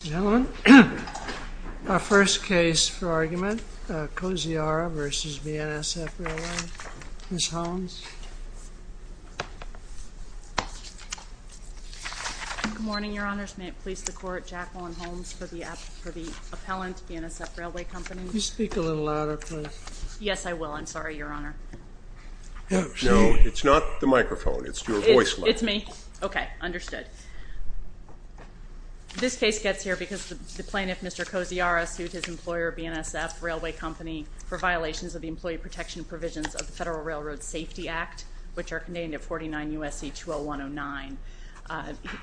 Gentlemen, our first case for argument, Koziara v. BNSF Railway. Ms. Holmes. Good morning, Your Honors. May it please the Court, Jacqueline Holmes for the appellant, BNSF Railway Company. Could you speak a little louder, please? Yes, I will. I'm sorry, Your Honor. No, it's not the microphone. It's your voice line. It's me? Okay, understood. This case gets here because the plaintiff, Mr. Koziara, sued his employer, BNSF Railway Company, for violations of the Employee Protection Provisions of the Federal Railroad Safety Act, which are contained in 49 U.S.C. 20109.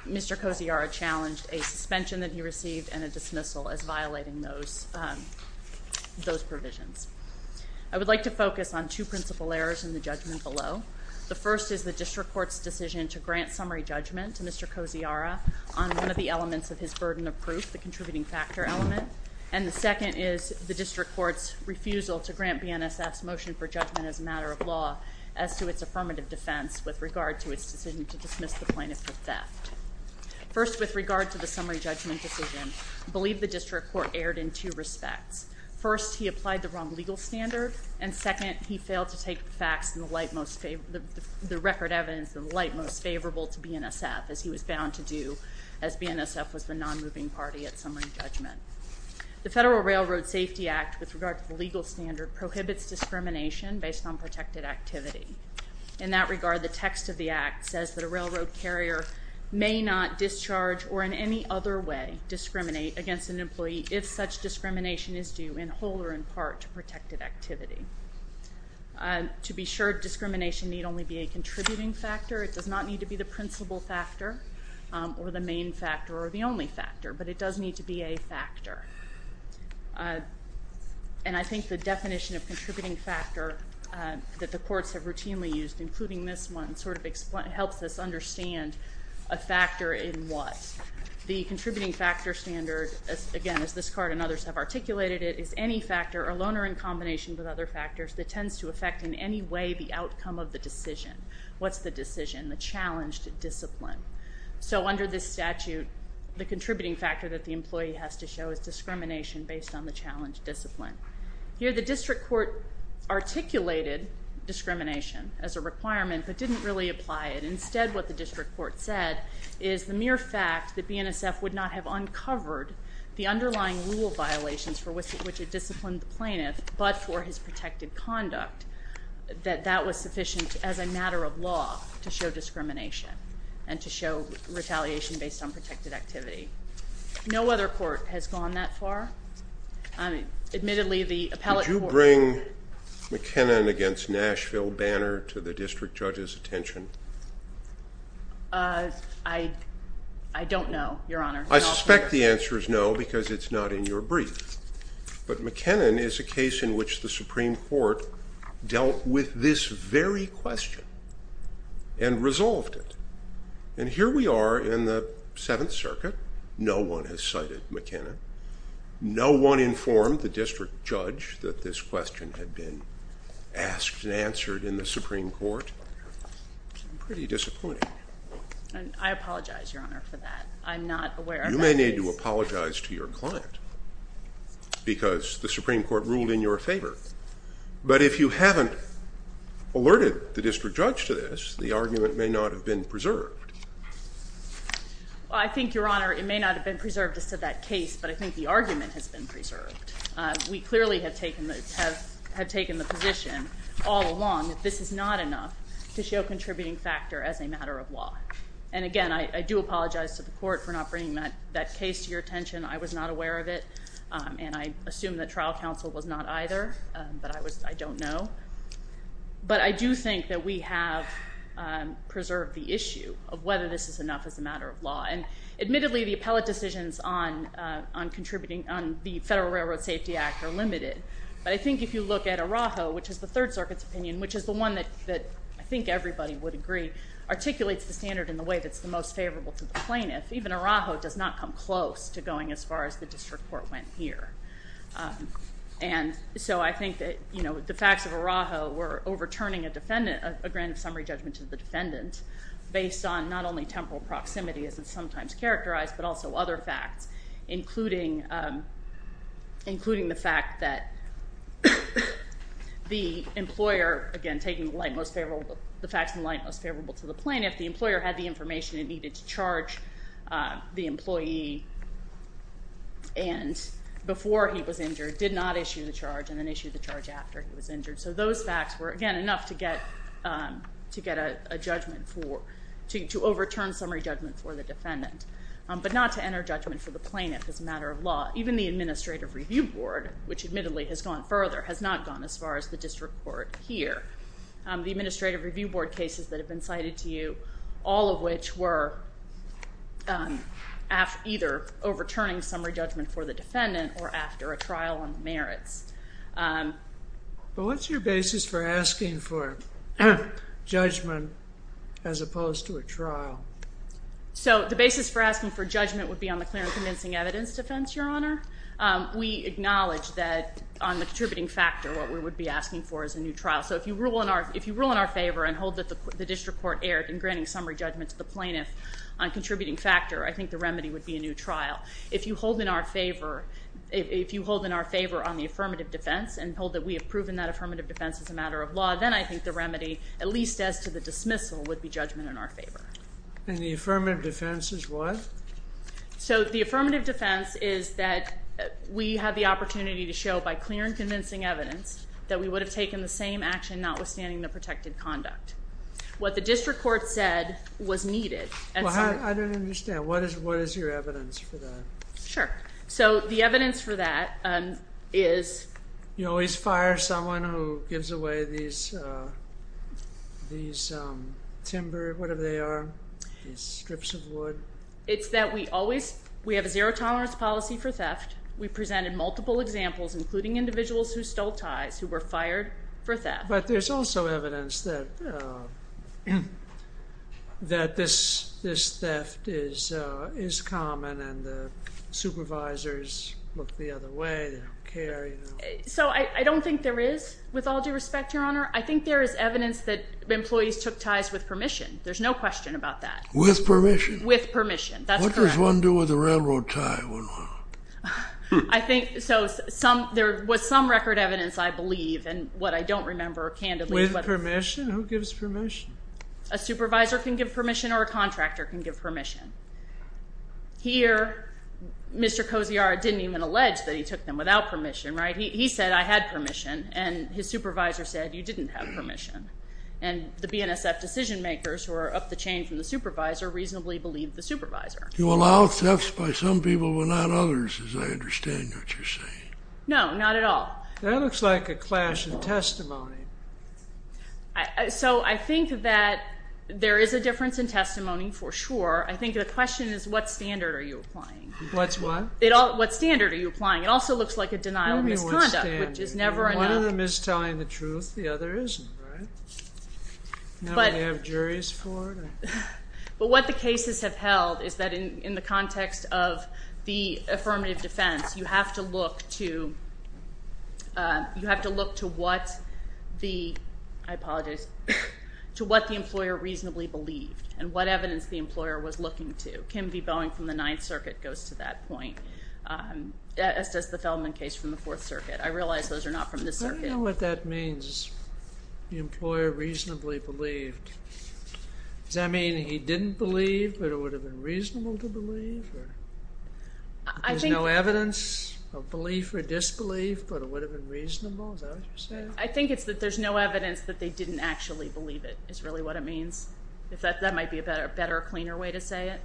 Mr. Koziara challenged a suspension that he received and a dismissal as violating those provisions. I would like to focus on two principal errors in the judgment below. The first is the district court's decision to grant summary judgment to Mr. Koziara on one of the elements of his burden of proof, the contributing factor element. And the second is the district court's refusal to grant BNSF's motion for judgment as a matter of law as to its affirmative defense with regard to its decision to dismiss the plaintiff for theft. First, with regard to the summary judgment decision, I believe the district court erred in two respects. First, he applied the wrong legal standard. And second, he failed to take the record evidence in the light most favorable to BNSF, as he was bound to do as BNSF was the non-moving party at summary judgment. The Federal Railroad Safety Act, with regard to the legal standard, prohibits discrimination based on protected activity. In that regard, the text of the act says that a railroad carrier may not discharge or in any other way discriminate against an employee if such discrimination is due in whole or in part to protected activity. To be sure, discrimination need only be a contributing factor. It does not need to be the principal factor or the main factor or the only factor, but it does need to be a factor. And I think the definition of contributing factor that the courts have routinely used, including this one, sort of helps us understand a factor in what. The contributing factor standard, again, as this court and others have articulated it, is any factor, or loaner in combination with other factors, that tends to affect in any way the outcome of the decision. What's the decision? The challenged discipline. So under this statute, the contributing factor that the employee has to show is discrimination based on the challenged discipline. Here, the district court articulated discrimination as a requirement, but didn't really apply it. Instead, what the district court said is the mere fact that BNSF would not have uncovered the underlying rule violations for which it disciplined the plaintiff, but for his protected conduct, that that was sufficient as a matter of law to show discrimination and to show retaliation based on protected activity. No other court has gone that far. Admittedly, the appellate court... Would you bring McKinnon against Nashville banner to the district judge's attention? I don't know, Your Honor. I suspect the answer is no because it's not in your brief. But McKinnon is a case in which the Supreme Court dealt with this very question and resolved it. And here we are in the Seventh Circuit. No one has cited McKinnon. No one informed the district judge that this question had been asked and answered in the Supreme Court. I'm pretty disappointed. I apologize, Your Honor, for that. I'm not aware of that case. You may need to apologize to your client because the Supreme Court ruled in your favor. But if you haven't alerted the district judge to this, the argument may not have been preserved. I think, Your Honor, it may not have been preserved as to that case, but I think the argument has been preserved. We clearly have taken the position all along that this is not enough to show a contributing factor as a matter of law. And again, I do apologize to the court for not bringing that case to your attention. I was not aware of it, and I assume that trial counsel was not either, but I don't know. But I do think that we have preserved the issue of whether this is enough as a matter of law. And admittedly, the appellate decisions on the Federal Railroad Safety Act are limited, but I think if you look at Araujo, which is the Third Circuit's opinion, which is the one that I think everybody would agree articulates the standard in the way that's the most favorable to the plaintiff, even Araujo does not come close to going as far as the district court went here. And so I think that, you know, the facts of Araujo were overturning a defendant, a grant of summary judgment to the defendant based on not only temporal proximity, as it's sometimes characterized, but also other facts, including the fact that the employer, again, taking the facts in the light most favorable to the plaintiff, the employer had the information it needed to charge the employee and before he was injured, did not issue the charge, and then issued the charge after he was injured. So those facts were, again, enough to get a judgment for, to overturn summary judgment for the defendant, but not to enter judgment for the plaintiff as a matter of law. Even the Administrative Review Board, which admittedly has gone further, has not gone as far as the district court here. The Administrative Review Board cases that have been cited to you, all of which were either overturning summary judgment for the defendant or after a trial on merits. But what's your basis for asking for judgment as opposed to a trial? So the basis for asking for judgment would be on the clear and convincing evidence defense, Your Honor. We acknowledge that on the contributing factor, what we would be asking for is a new trial. So if you rule in our favor and hold that the district court erred in granting summary judgment to the plaintiff on contributing factor, I think the remedy would be a new trial. If you hold in our favor, if you hold in our favor on the affirmative defense and hold that we have proven that affirmative defense is a matter of law, then I think the remedy, at least as to the dismissal, would be judgment in our favor. And the affirmative defense is what? So the affirmative defense is that we have the opportunity to show by clear and convincing evidence that we would have taken the same action notwithstanding the protected conduct. What the district court said was needed. Well, I don't understand. What is your evidence for that? Sure. So the evidence for that is? You always fire someone who gives away these timber, whatever they are, these strips of wood. We presented multiple examples, including individuals who stole ties, who were fired for theft. But there's also evidence that this theft is common and the supervisors look the other way, they don't care. So I don't think there is, with all due respect, Your Honor. I think there is evidence that employees took ties with permission. There's no question about that. With permission? With permission, that's correct. What does one do with a railroad tie? I think there was some record evidence, I believe, and what I don't remember, candidly. With permission? Who gives permission? A supervisor can give permission or a contractor can give permission. Here, Mr. Kosiara didn't even allege that he took them without permission, right? He said, I had permission, and his supervisor said, you didn't have permission. And the BNSF decision makers who are up the chain from the supervisor reasonably believe the supervisor. You allow thefts by some people but not others, as I understand what you're saying. No, not at all. That looks like a clash of testimony. So I think that there is a difference in testimony, for sure. I think the question is, what standard are you applying? What's what? What standard are you applying? It also looks like a denial of misconduct, which is never enough. One of them is telling the truth. The other isn't, right? Do we have juries for it? But what the cases have held is that in the context of the affirmative defense, you have to look to what the employer reasonably believed and what evidence the employer was looking to. Kim v. Boeing from the Ninth Circuit goes to that point, as does the Feldman case from the Fourth Circuit. I realize those are not from this circuit. I don't know what that means, the employer reasonably believed. Does that mean he didn't believe but it would have been reasonable to believe? There's no evidence of belief or disbelief but it would have been reasonable? Is that what you're saying? I think it's that there's no evidence that they didn't actually believe it is really what it means. That might be a better, cleaner way to say it.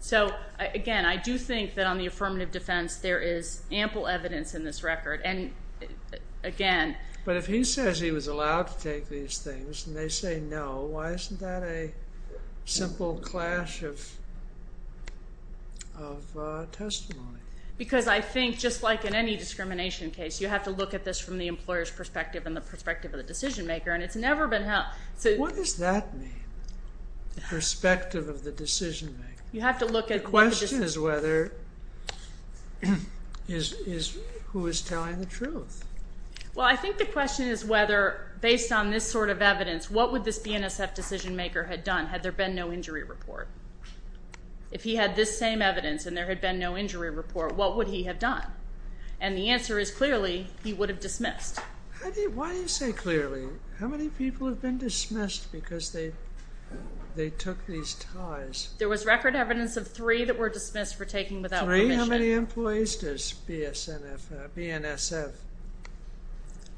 So, again, I do think that on the affirmative defense, there is ample evidence in this record. But if he says he was allowed to take these things and they say no, why isn't that a simple clash of testimony? Because I think just like in any discrimination case, you have to look at this from the employer's perspective and the perspective of the decision maker. What does that mean? Perspective of the decision maker. The question is whether, who is telling the truth? Well, I think the question is whether based on this sort of evidence, what would this BNSF decision maker have done had there been no injury report? If he had this same evidence and there had been no injury report, what would he have done? And the answer is clearly, he would have dismissed. Why do you say clearly? How many people have been dismissed because they took these ties? There was record evidence of three that were dismissed for taking without permission. Three? How many employees does BNSF have?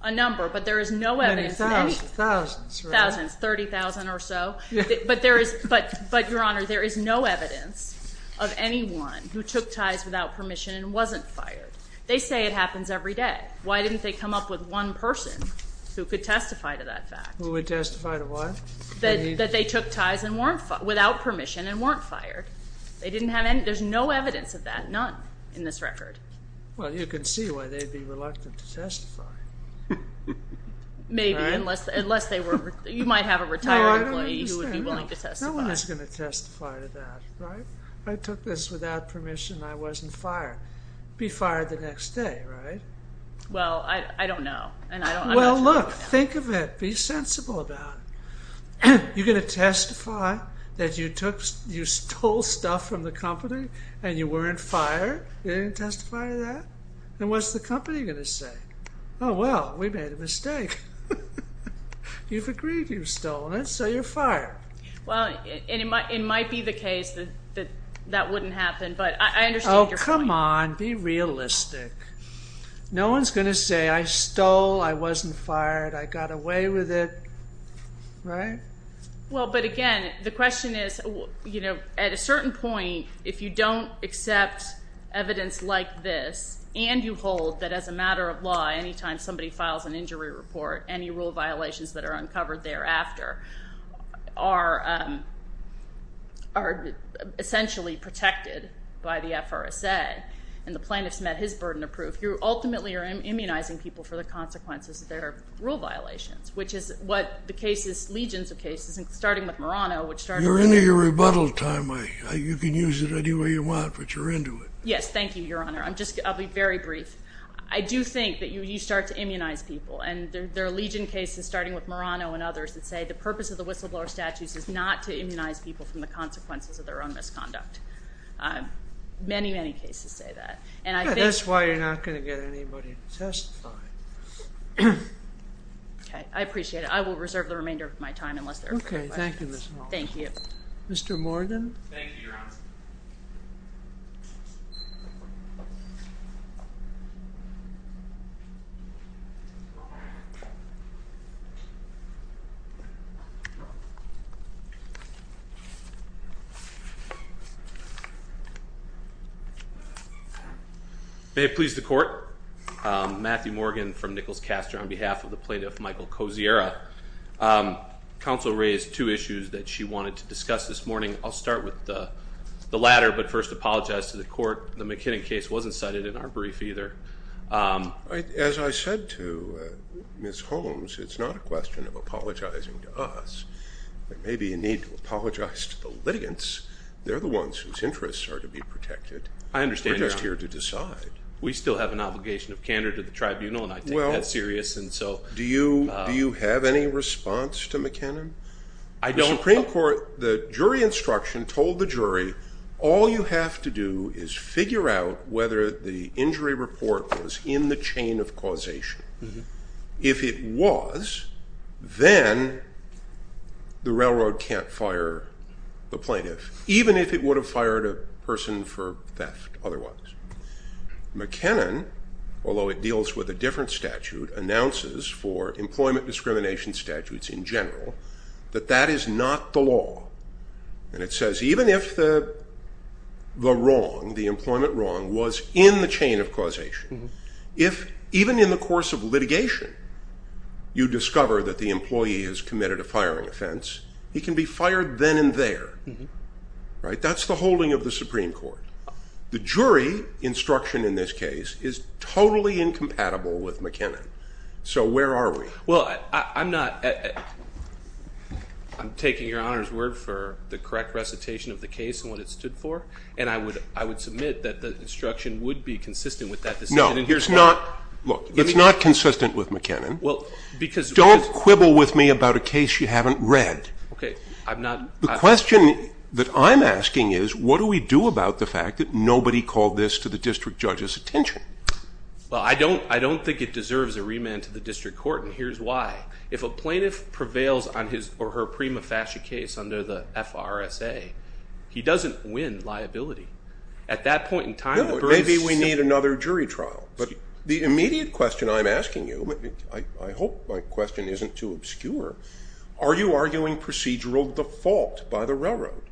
A number, but there is no evidence. Thousands, right? Thousands, 30,000 or so. But, Your Honor, there is no evidence of anyone who took ties without permission and wasn't fired. They say it happens every day. Why didn't they come up with one person who could testify to that fact? Who would testify to what? That they took ties without permission and weren't fired. They didn't have any, there is no evidence of that, none in this record. Well, you can see why they would be reluctant to testify. Maybe, unless they were, you might have a retired employee who would be willing to testify. No one is going to testify to that, right? I took this without permission and I wasn't fired. Be fired the next day, right? Well, I don't know. Well, look, think of it, be sensible about it. You're going to testify that you stole stuff from the company and you weren't fired? You're going to testify to that? And what's the company going to say? Oh, well, we made a mistake. You've agreed you've stolen it, so you're fired. Well, it might be the case that that wouldn't happen, but I understand your point. Come on, be realistic. No one is going to say, I stole, I wasn't fired, I got away with it, right? Well, but again, the question is, you know, at a certain point, if you don't accept evidence like this and you hold that as a matter of law, anytime somebody files an injury report, any rule violations that are uncovered thereafter are essentially protected by the FRSA and the plaintiff's met his burden of proof, you ultimately are immunizing people for the consequences of their rule violations, which is what the cases, legions of cases, starting with Murano, which started with me. You're into your rebuttal time. You can use it any way you want, but you're into it. Yes, thank you, Your Honor. I'll be very brief. I do think that you start to immunize people, and there are legion cases starting with Murano and others that say the purpose of the whistleblower statutes is not to immunize people from the consequences of their own misconduct. Many, many cases say that. That's why you're not going to get anybody to testify. Okay, I appreciate it. I will reserve the remainder of my time unless there are further questions. Okay, thank you, Ms. Hall. Thank you. Mr. Morgan. Thank you, Your Honor. Thank you. May it please the Court. Matthew Morgan from Nichols-Castor on behalf of the plaintiff, Michael Kosiera. Counsel raised two issues that she wanted to discuss this morning. I'll start with the latter, but first apologize to the Court. The McKinnon case wasn't cited in our brief either. As I said to Ms. Holmes, it's not a question of apologizing to us. There may be a need to apologize to the litigants. They're the ones whose interests are to be protected. I understand, Your Honor. We're just here to decide. We still have an obligation of candor to the tribunal, and I take that serious. Do you have any response to McKinnon? I don't. The jury instruction told the jury, all you have to do is figure out whether the injury report was in the chain of causation. If it was, then the railroad can't fire the plaintiff, even if it would have fired a person for theft otherwise. McKinnon, although it deals with a different statute, announces for employment discrimination statutes in general that that is not the law. And it says even if the wrong, the employment wrong, was in the chain of causation, if even in the course of litigation you discover that the employee has committed a firing offense, he can be fired then and there. That's the holding of the Supreme Court. The jury instruction in this case is totally incompatible with McKinnon. So where are we? Well, I'm taking your Honor's word for the correct recitation of the case and what it stood for, and I would submit that the instruction would be consistent with that decision. No, it's not consistent with McKinnon. Don't quibble with me about a case you haven't read. The question that I'm asking is, what do we do about the fact that nobody called this to the district judge's attention? Well, I don't think it deserves a remand to the district court, and here's why. If a plaintiff prevails on his or her prima facie case under the FRSA, he doesn't win liability. At that point in time, the burden is still... No, maybe we need another jury trial. But the immediate question I'm asking you, I hope my question isn't too obscure, are you arguing procedural default by the railroad?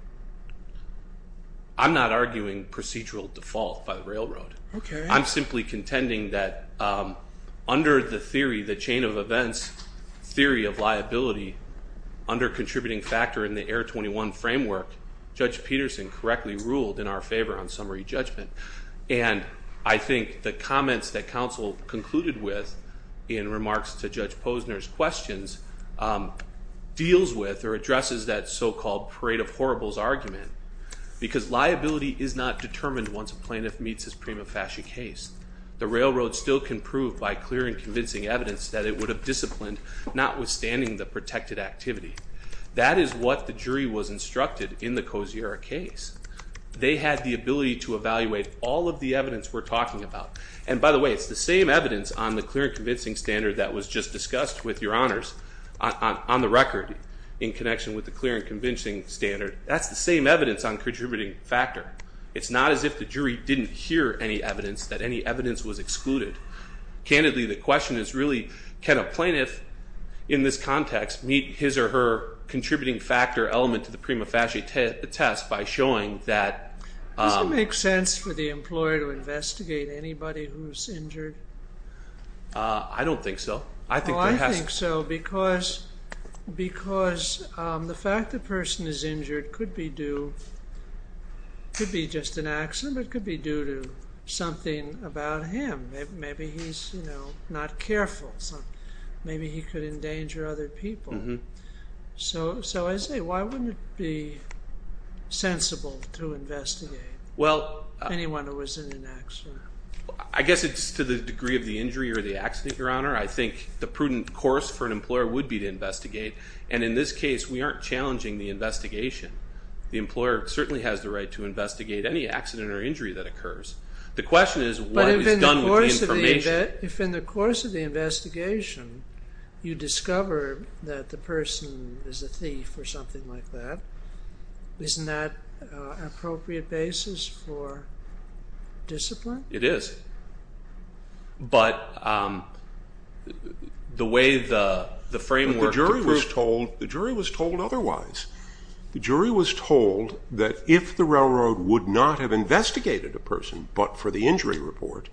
I'm not arguing procedural default by the railroad. I'm simply contending that under the theory, the chain of events theory of liability, under contributing factor in the Air 21 framework, Judge Peterson correctly ruled in our favor on summary judgment. And I think the comments that counsel concluded with in remarks to Judge Posner's questions deals with or addresses that so-called parade of horribles argument, because liability is not determined once a plaintiff meets his prima facie case. The railroad still can prove by clear and convincing evidence that it would have disciplined, notwithstanding the protected activity. That is what the jury was instructed in the Kosiora case. They had the ability to evaluate all of the evidence we're talking about. And by the way, it's the same evidence on the clear and convincing standard that was just discussed with your honors on the record in connection with the clear and convincing standard. That's the same evidence on contributing factor. It's not as if the jury didn't hear any evidence, that any evidence was excluded. Candidly, the question is really can a plaintiff in this context meet his or her contributing factor element to the prima facie test by showing that. Does it make sense for the employer to investigate anybody who is injured? I don't think so. Well, I think so because the fact the person is injured could be due, could be just an accident, but could be due to something about him. Maybe he's not careful. Maybe he could endanger other people. So I say why wouldn't it be sensible to investigate anyone who was in an accident? I guess it's to the degree of the injury or the accident, Your Honor. I think the prudent course for an employer would be to investigate. And in this case, we aren't challenging the investigation. The employer certainly has the right to investigate any accident or injury that occurs. The question is what is done with the information. But if in the course of the investigation you discover that the person is a thief or something like that, isn't that an appropriate basis for discipline? It is. But the way the framework. The jury was told otherwise. The jury was told that if the railroad would not have investigated a person but for the injury report,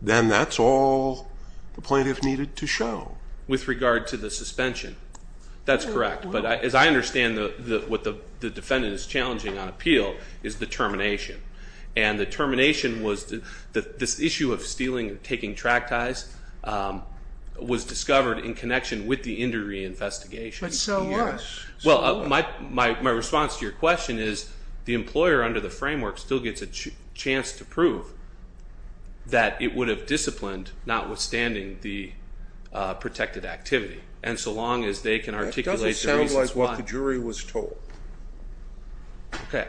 then that's all the plaintiff needed to show. With regard to the suspension. That's correct. But as I understand what the defendant is challenging on appeal is the termination. And the termination was this issue of stealing or taking track ties was discovered in connection with the injury investigation. But so was. Well, my response to your question is the employer under the framework still gets a chance to prove that it would have disciplined notwithstanding the protected activity. And so long as they can articulate the reasons why. That doesn't sound like what the jury was told. Okay.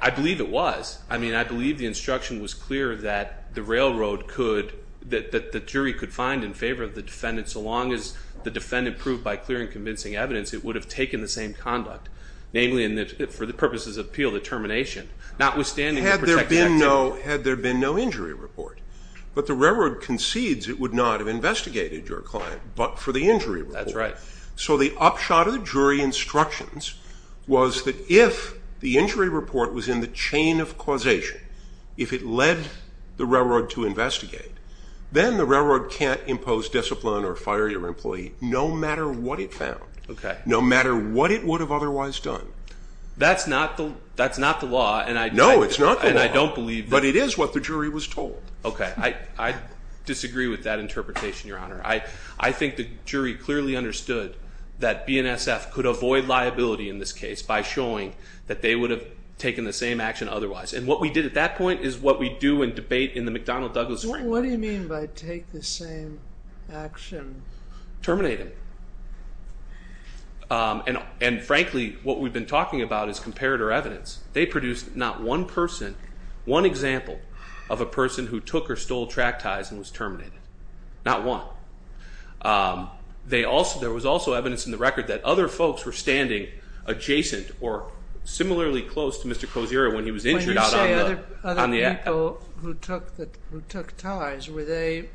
I believe it was. I mean, I believe the instruction was clear that the railroad could. That the jury could find in favor of the defendant so long as the defendant proved by clear and convincing evidence it would have taken the same conduct. Namely, for the purposes of appeal, the termination. Notwithstanding the protected activity. Had there been no injury report. But the railroad concedes it would not have investigated your client but for the injury report. That's right. So the upshot of the jury instructions was that if the injury report was in the chain of causation. If it led the railroad to investigate. Then the railroad can't impose discipline or fire your employee no matter what it found. Okay. No matter what it would have otherwise done. That's not the law. No, it's not the law. And I don't believe that. But it is what the jury was told. Okay. I disagree with that interpretation, Your Honor. I think the jury clearly understood that BNSF could avoid liability in this case. By showing that they would have taken the same action otherwise. And what we did at that point is what we do in debate in the McDonnell Douglas framework. What do you mean by take the same action? Terminate him. And frankly, what we've been talking about is comparator evidence. They produced not one person. One example of a person who took or stole track ties and was terminated. Not one. There was also evidence in the record that other folks were standing adjacent or similarly close to Mr. Kozira when he was injured. When you say other people who took ties, were they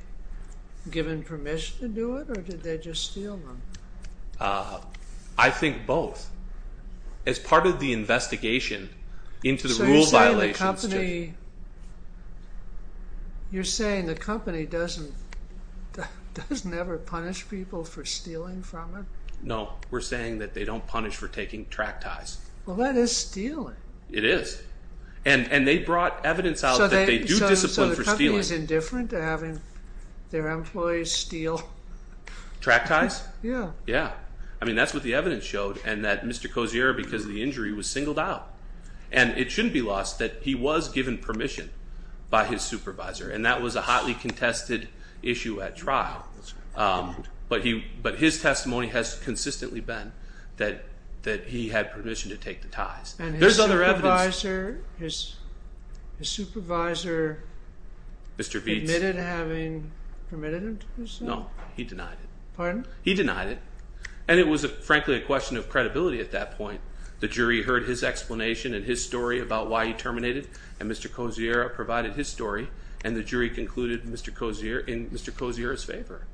given permission to do it? Or did they just steal them? I think both. As part of the investigation into the rule violations. You're saying the company does never punish people for stealing from it? No. We're saying that they don't punish for taking track ties. Well, that is stealing. It is. And they brought evidence out that they do discipline for stealing. So the company is indifferent to having their employees steal? Track ties? Yeah. Yeah. I mean, that's what the evidence showed. And that Mr. Kozira, because of the injury, was singled out. And it shouldn't be lost that he was given permission by his supervisor. And that was a hotly contested issue at trial. But his testimony has consistently been that he had permission to take the ties. And his supervisor admitted having permitted him to do so? No. He denied it. Pardon? He denied it. And it was, frankly, a question of credibility at that point. The jury heard his explanation and his story about why he terminated. And Mr. Kozira provided his story. And the jury concluded in Mr. Kozira's favor.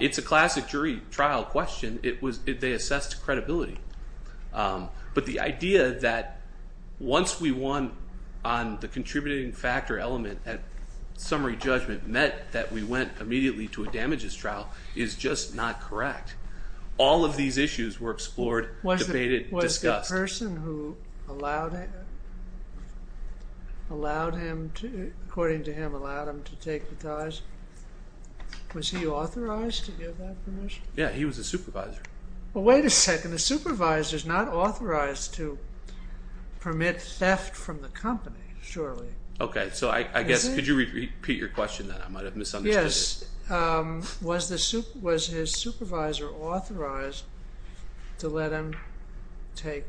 It's a classic jury trial question. They assessed credibility. But the idea that once we won on the contributing factor element, that summary judgment meant that we went immediately to a damages trial is just not correct. All of these issues were explored, debated, discussed. Was the person who allowed him to, according to him, allowed him to take the ties, was he authorized to give that permission? Yeah. He was a supervisor. Well, wait a second. The supervisor is not authorized to permit theft from the company, surely. Okay. So I guess, could you repeat your question then? I might have misunderstood it. Was his supervisor authorized to let him take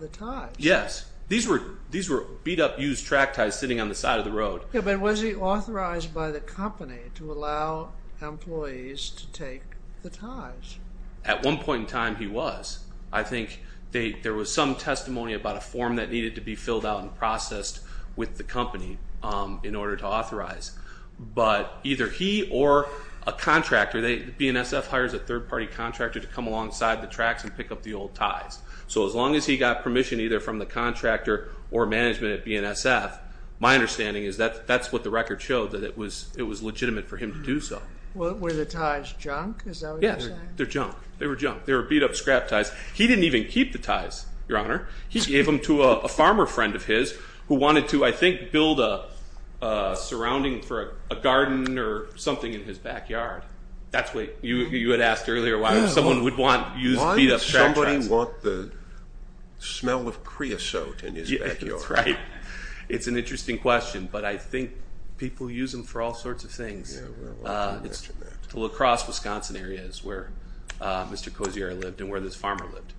the ties? Yes. These were beat-up used track ties sitting on the side of the road. Yeah, but was he authorized by the company to allow employees to take the ties? At one point in time, he was. I think there was some testimony about a form that needed to be filled out and processed with the company in order to authorize. But either he or a contractor, BNSF hires a third-party contractor to come alongside the tracks and pick up the old ties. So as long as he got permission either from the contractor or management at BNSF, my understanding is that that's what the record showed, that it was legitimate for him to do so. Were the ties junk, is that what you're saying? Yeah, they're junk. They were junk. They were beat-up scrap ties. He didn't even keep the ties, Your Honor. He gave them to a farmer friend of his who wanted to, I think, build a surrounding for a garden or something in his backyard. That's what you had asked earlier, why someone would want used beat-up scrap ties. Why does somebody want the smell of creosote in his backyard? That's right. It's an interesting question, but I think people use them for all sorts of things. The La Crosse, Wisconsin area is where Mr. Cozier lived and where this farmer lived.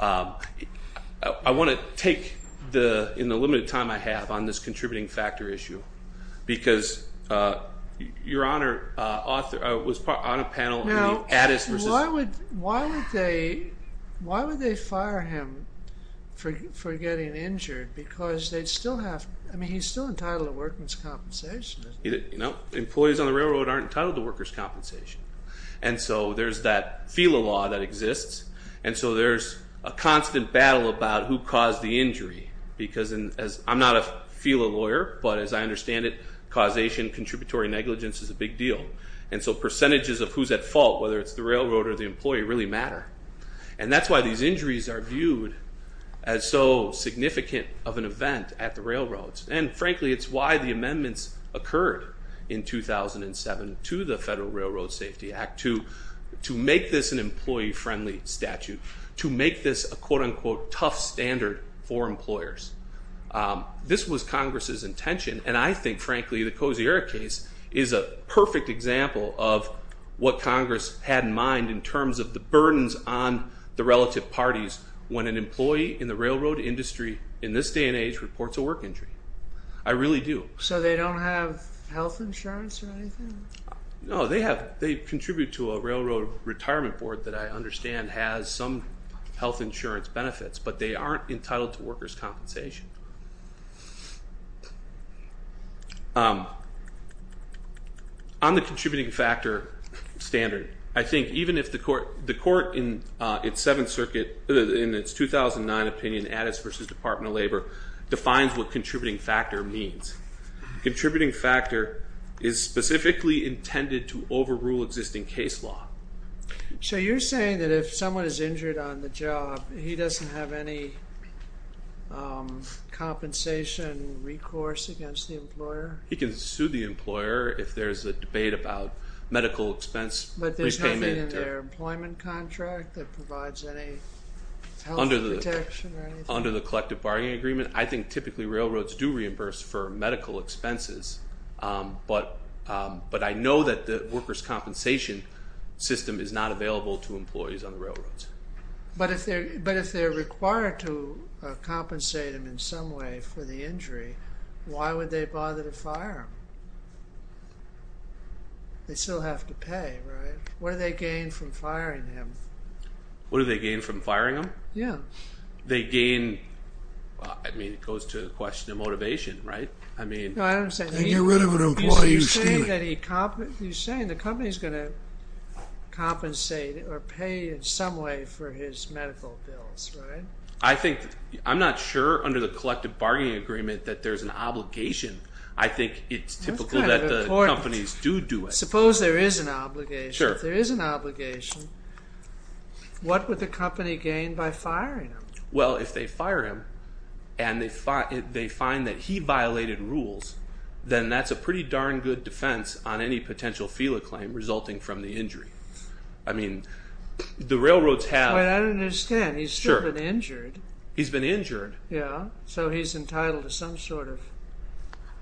I want to take in the limited time I have on this contributing factor issue because, Your Honor, I was on a panel. Now, why would they fire him for getting injured? Because they'd still have, I mean, he's still entitled to workman's compensation, isn't he? Employees on the railroad aren't entitled to worker's compensation. And so there's that FELA law that exists, and so there's a constant battle about who caused the injury. Because I'm not a FELA lawyer, but as I understand it, causation, contributory negligence is a big deal. And so percentages of who's at fault, whether it's the railroad or the employee, really matter. And that's why these injuries are viewed as so significant of an event at the railroads. And frankly, it's why the amendments occurred in 2007 to the Federal Railroad Safety Act to make this an employee-friendly statute, to make this a quote-unquote tough standard for employers. This was Congress's intention, and I think, frankly, the Cozier case is a perfect example of what Congress had in mind in terms of the burdens on the relative parties when an employee in the railroad industry in this day and age reports a work injury. I really do. So they don't have health insurance or anything? No, they contribute to a railroad retirement board that I understand has some health insurance benefits, but they aren't entitled to worker's compensation. On the contributing factor standard, I think even if the court in its 2009 opinion, Addis v. Department of Labor, defines what contributing factor means. Contributing factor is specifically intended to overrule existing case law. So you're saying that if someone is injured on the job, he doesn't have any compensation recourse against the employer? He can sue the employer if there's a debate about medical expense. But there's nothing in their employment contract that provides any health protection or anything? Under the collective bargaining agreement, I think typically railroads do reimburse for medical expenses, but I know that the worker's compensation system is not available to employees on the railroads. But if they're required to compensate them in some way for the injury, why would they bother to fire them? They still have to pay, right? What do they gain from firing them? What do they gain from firing them? Yeah. They gain, I mean, it goes to the question of motivation, right? No, I don't understand. They get rid of an employee who's stealing. You're saying the company's going to compensate or pay in some way for his medical bills, right? I'm not sure under the collective bargaining agreement that there's an obligation. I think it's typical that the companies do do it. That's kind of important. Suppose there is an obligation. Sure. If there is an obligation, what would the company gain by firing him? Well, if they fire him and they find that he violated rules, then that's a pretty darn good defense on any potential FELA claim resulting from the injury. I mean, the railroads have... I don't understand. He's still been injured. He's been injured. Yeah. So he's entitled to some sort of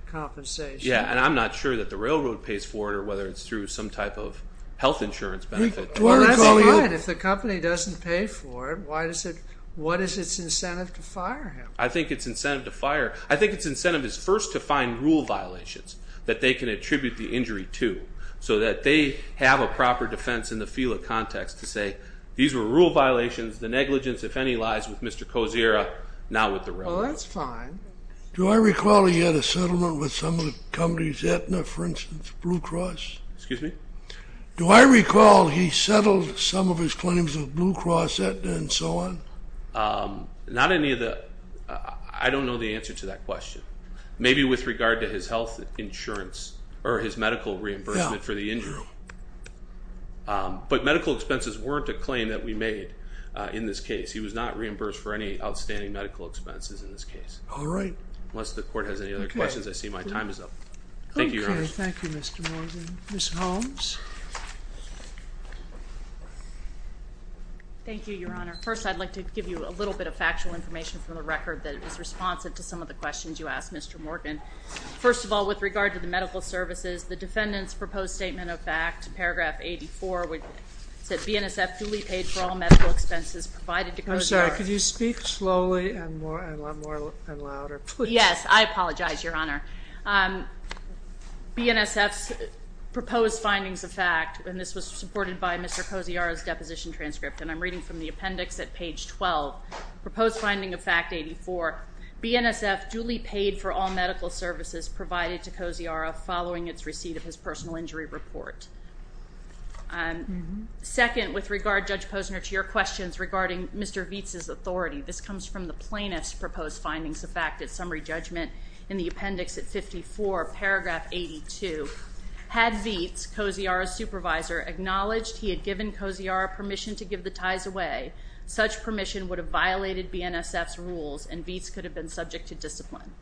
compensation. Yeah, and I'm not sure that the railroad pays for it or whether it's through some type of health insurance benefit. That's fine. If the company doesn't pay for it, what is its incentive to fire him? I think its incentive to fire... I think its incentive is first to find rule violations that they can attribute the injury to so that they have a proper defense in the FELA context to say, these were rule violations. The negligence, if any, lies with Mr. Kosiera, not with the railroad. Well, that's fine. Do I recall he had a settlement with some of the companies, Aetna, for instance, Blue Cross? Excuse me? Do I recall he settled some of his claims with Blue Cross, Aetna, and so on? Not any of the... I don't know the answer to that question. Maybe with regard to his health insurance or his medical reimbursement for the injury. But medical expenses weren't a claim that we made in this case. He was not reimbursed for any outstanding medical expenses in this case. All right. Unless the Court has any other questions, I see my time is up. Thank you, Your Honor. Okay, thank you, Mr. Morgan. Ms. Holmes? Thank you, Your Honor. First, I'd like to give you a little bit of factual information from the record that is responsive to some of the questions you asked, Mr. Morgan. First of all, with regard to the medical services, the defendant's proposed statement of fact, paragraph 84, said BNSF duly paid for all medical expenses provided to Kosiara. I'm sorry. Could you speak slowly and louder, please? Yes. I apologize, Your Honor. BNSF's proposed findings of fact, and this was supported by Mr. Kosiara's deposition transcript, and I'm reading from the appendix at page 12, proposed finding of fact 84, BNSF duly paid for all medical services provided to Kosiara following its receipt of his personal injury report. Second, with regard, Judge Posner, to your questions regarding Mr. Vietz's authority, this comes from the plaintiff's proposed findings of fact at summary judgment in the appendix at 54, paragraph 82. Had Vietz, Kosiara's supervisor, acknowledged he had given Kosiara permission to give the ties away, such permission would have violated BNSF's rules and Vietz could have been subject to discipline.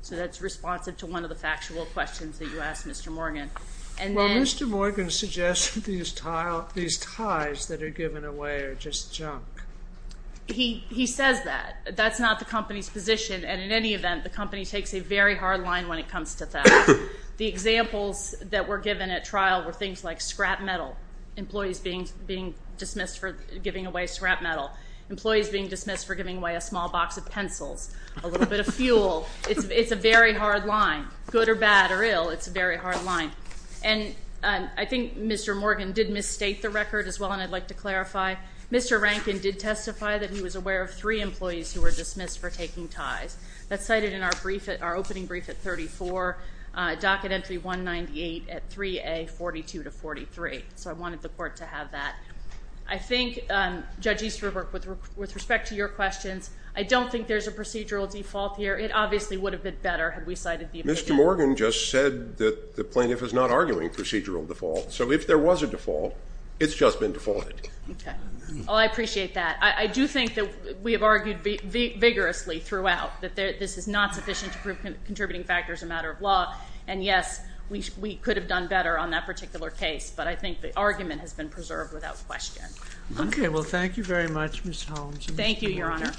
So that's responsive to one of the factual questions that you asked, Mr. Morgan. Well, Mr. Morgan suggested these ties that are given away are just junk. He says that. That's not the company's position, and in any event, the company takes a very hard line when it comes to that. The examples that were given at trial were things like scrap metal, employees being dismissed for giving away scrap metal, employees being dismissed for giving away a small box of pencils, a little bit of fuel. It's a very hard line. Good or bad or ill, it's a very hard line. And I think Mr. Morgan did misstate the record as well, and I'd like to clarify. Mr. Rankin did testify that he was aware of three employees who were dismissed for taking ties. That's cited in our opening brief at 34, docket entry 198 at 3A, 42 to 43. So I wanted the court to have that. I think, Judge Easterbrook, with respect to your questions, I don't think there's a procedural default here. It obviously would have been better had we cited the opinion. Mr. Morgan just said that the plaintiff is not arguing procedural default. So if there was a default, it's just been defaulted. Okay. Well, I appreciate that. I do think that we have argued vigorously throughout that this is not sufficient to prove contributing factors are a matter of law, and, yes, we could have done better on that particular case. But I think the argument has been preserved without question. Okay. Well, thank you very much, Ms. Holmes. Thank you, Your Honor.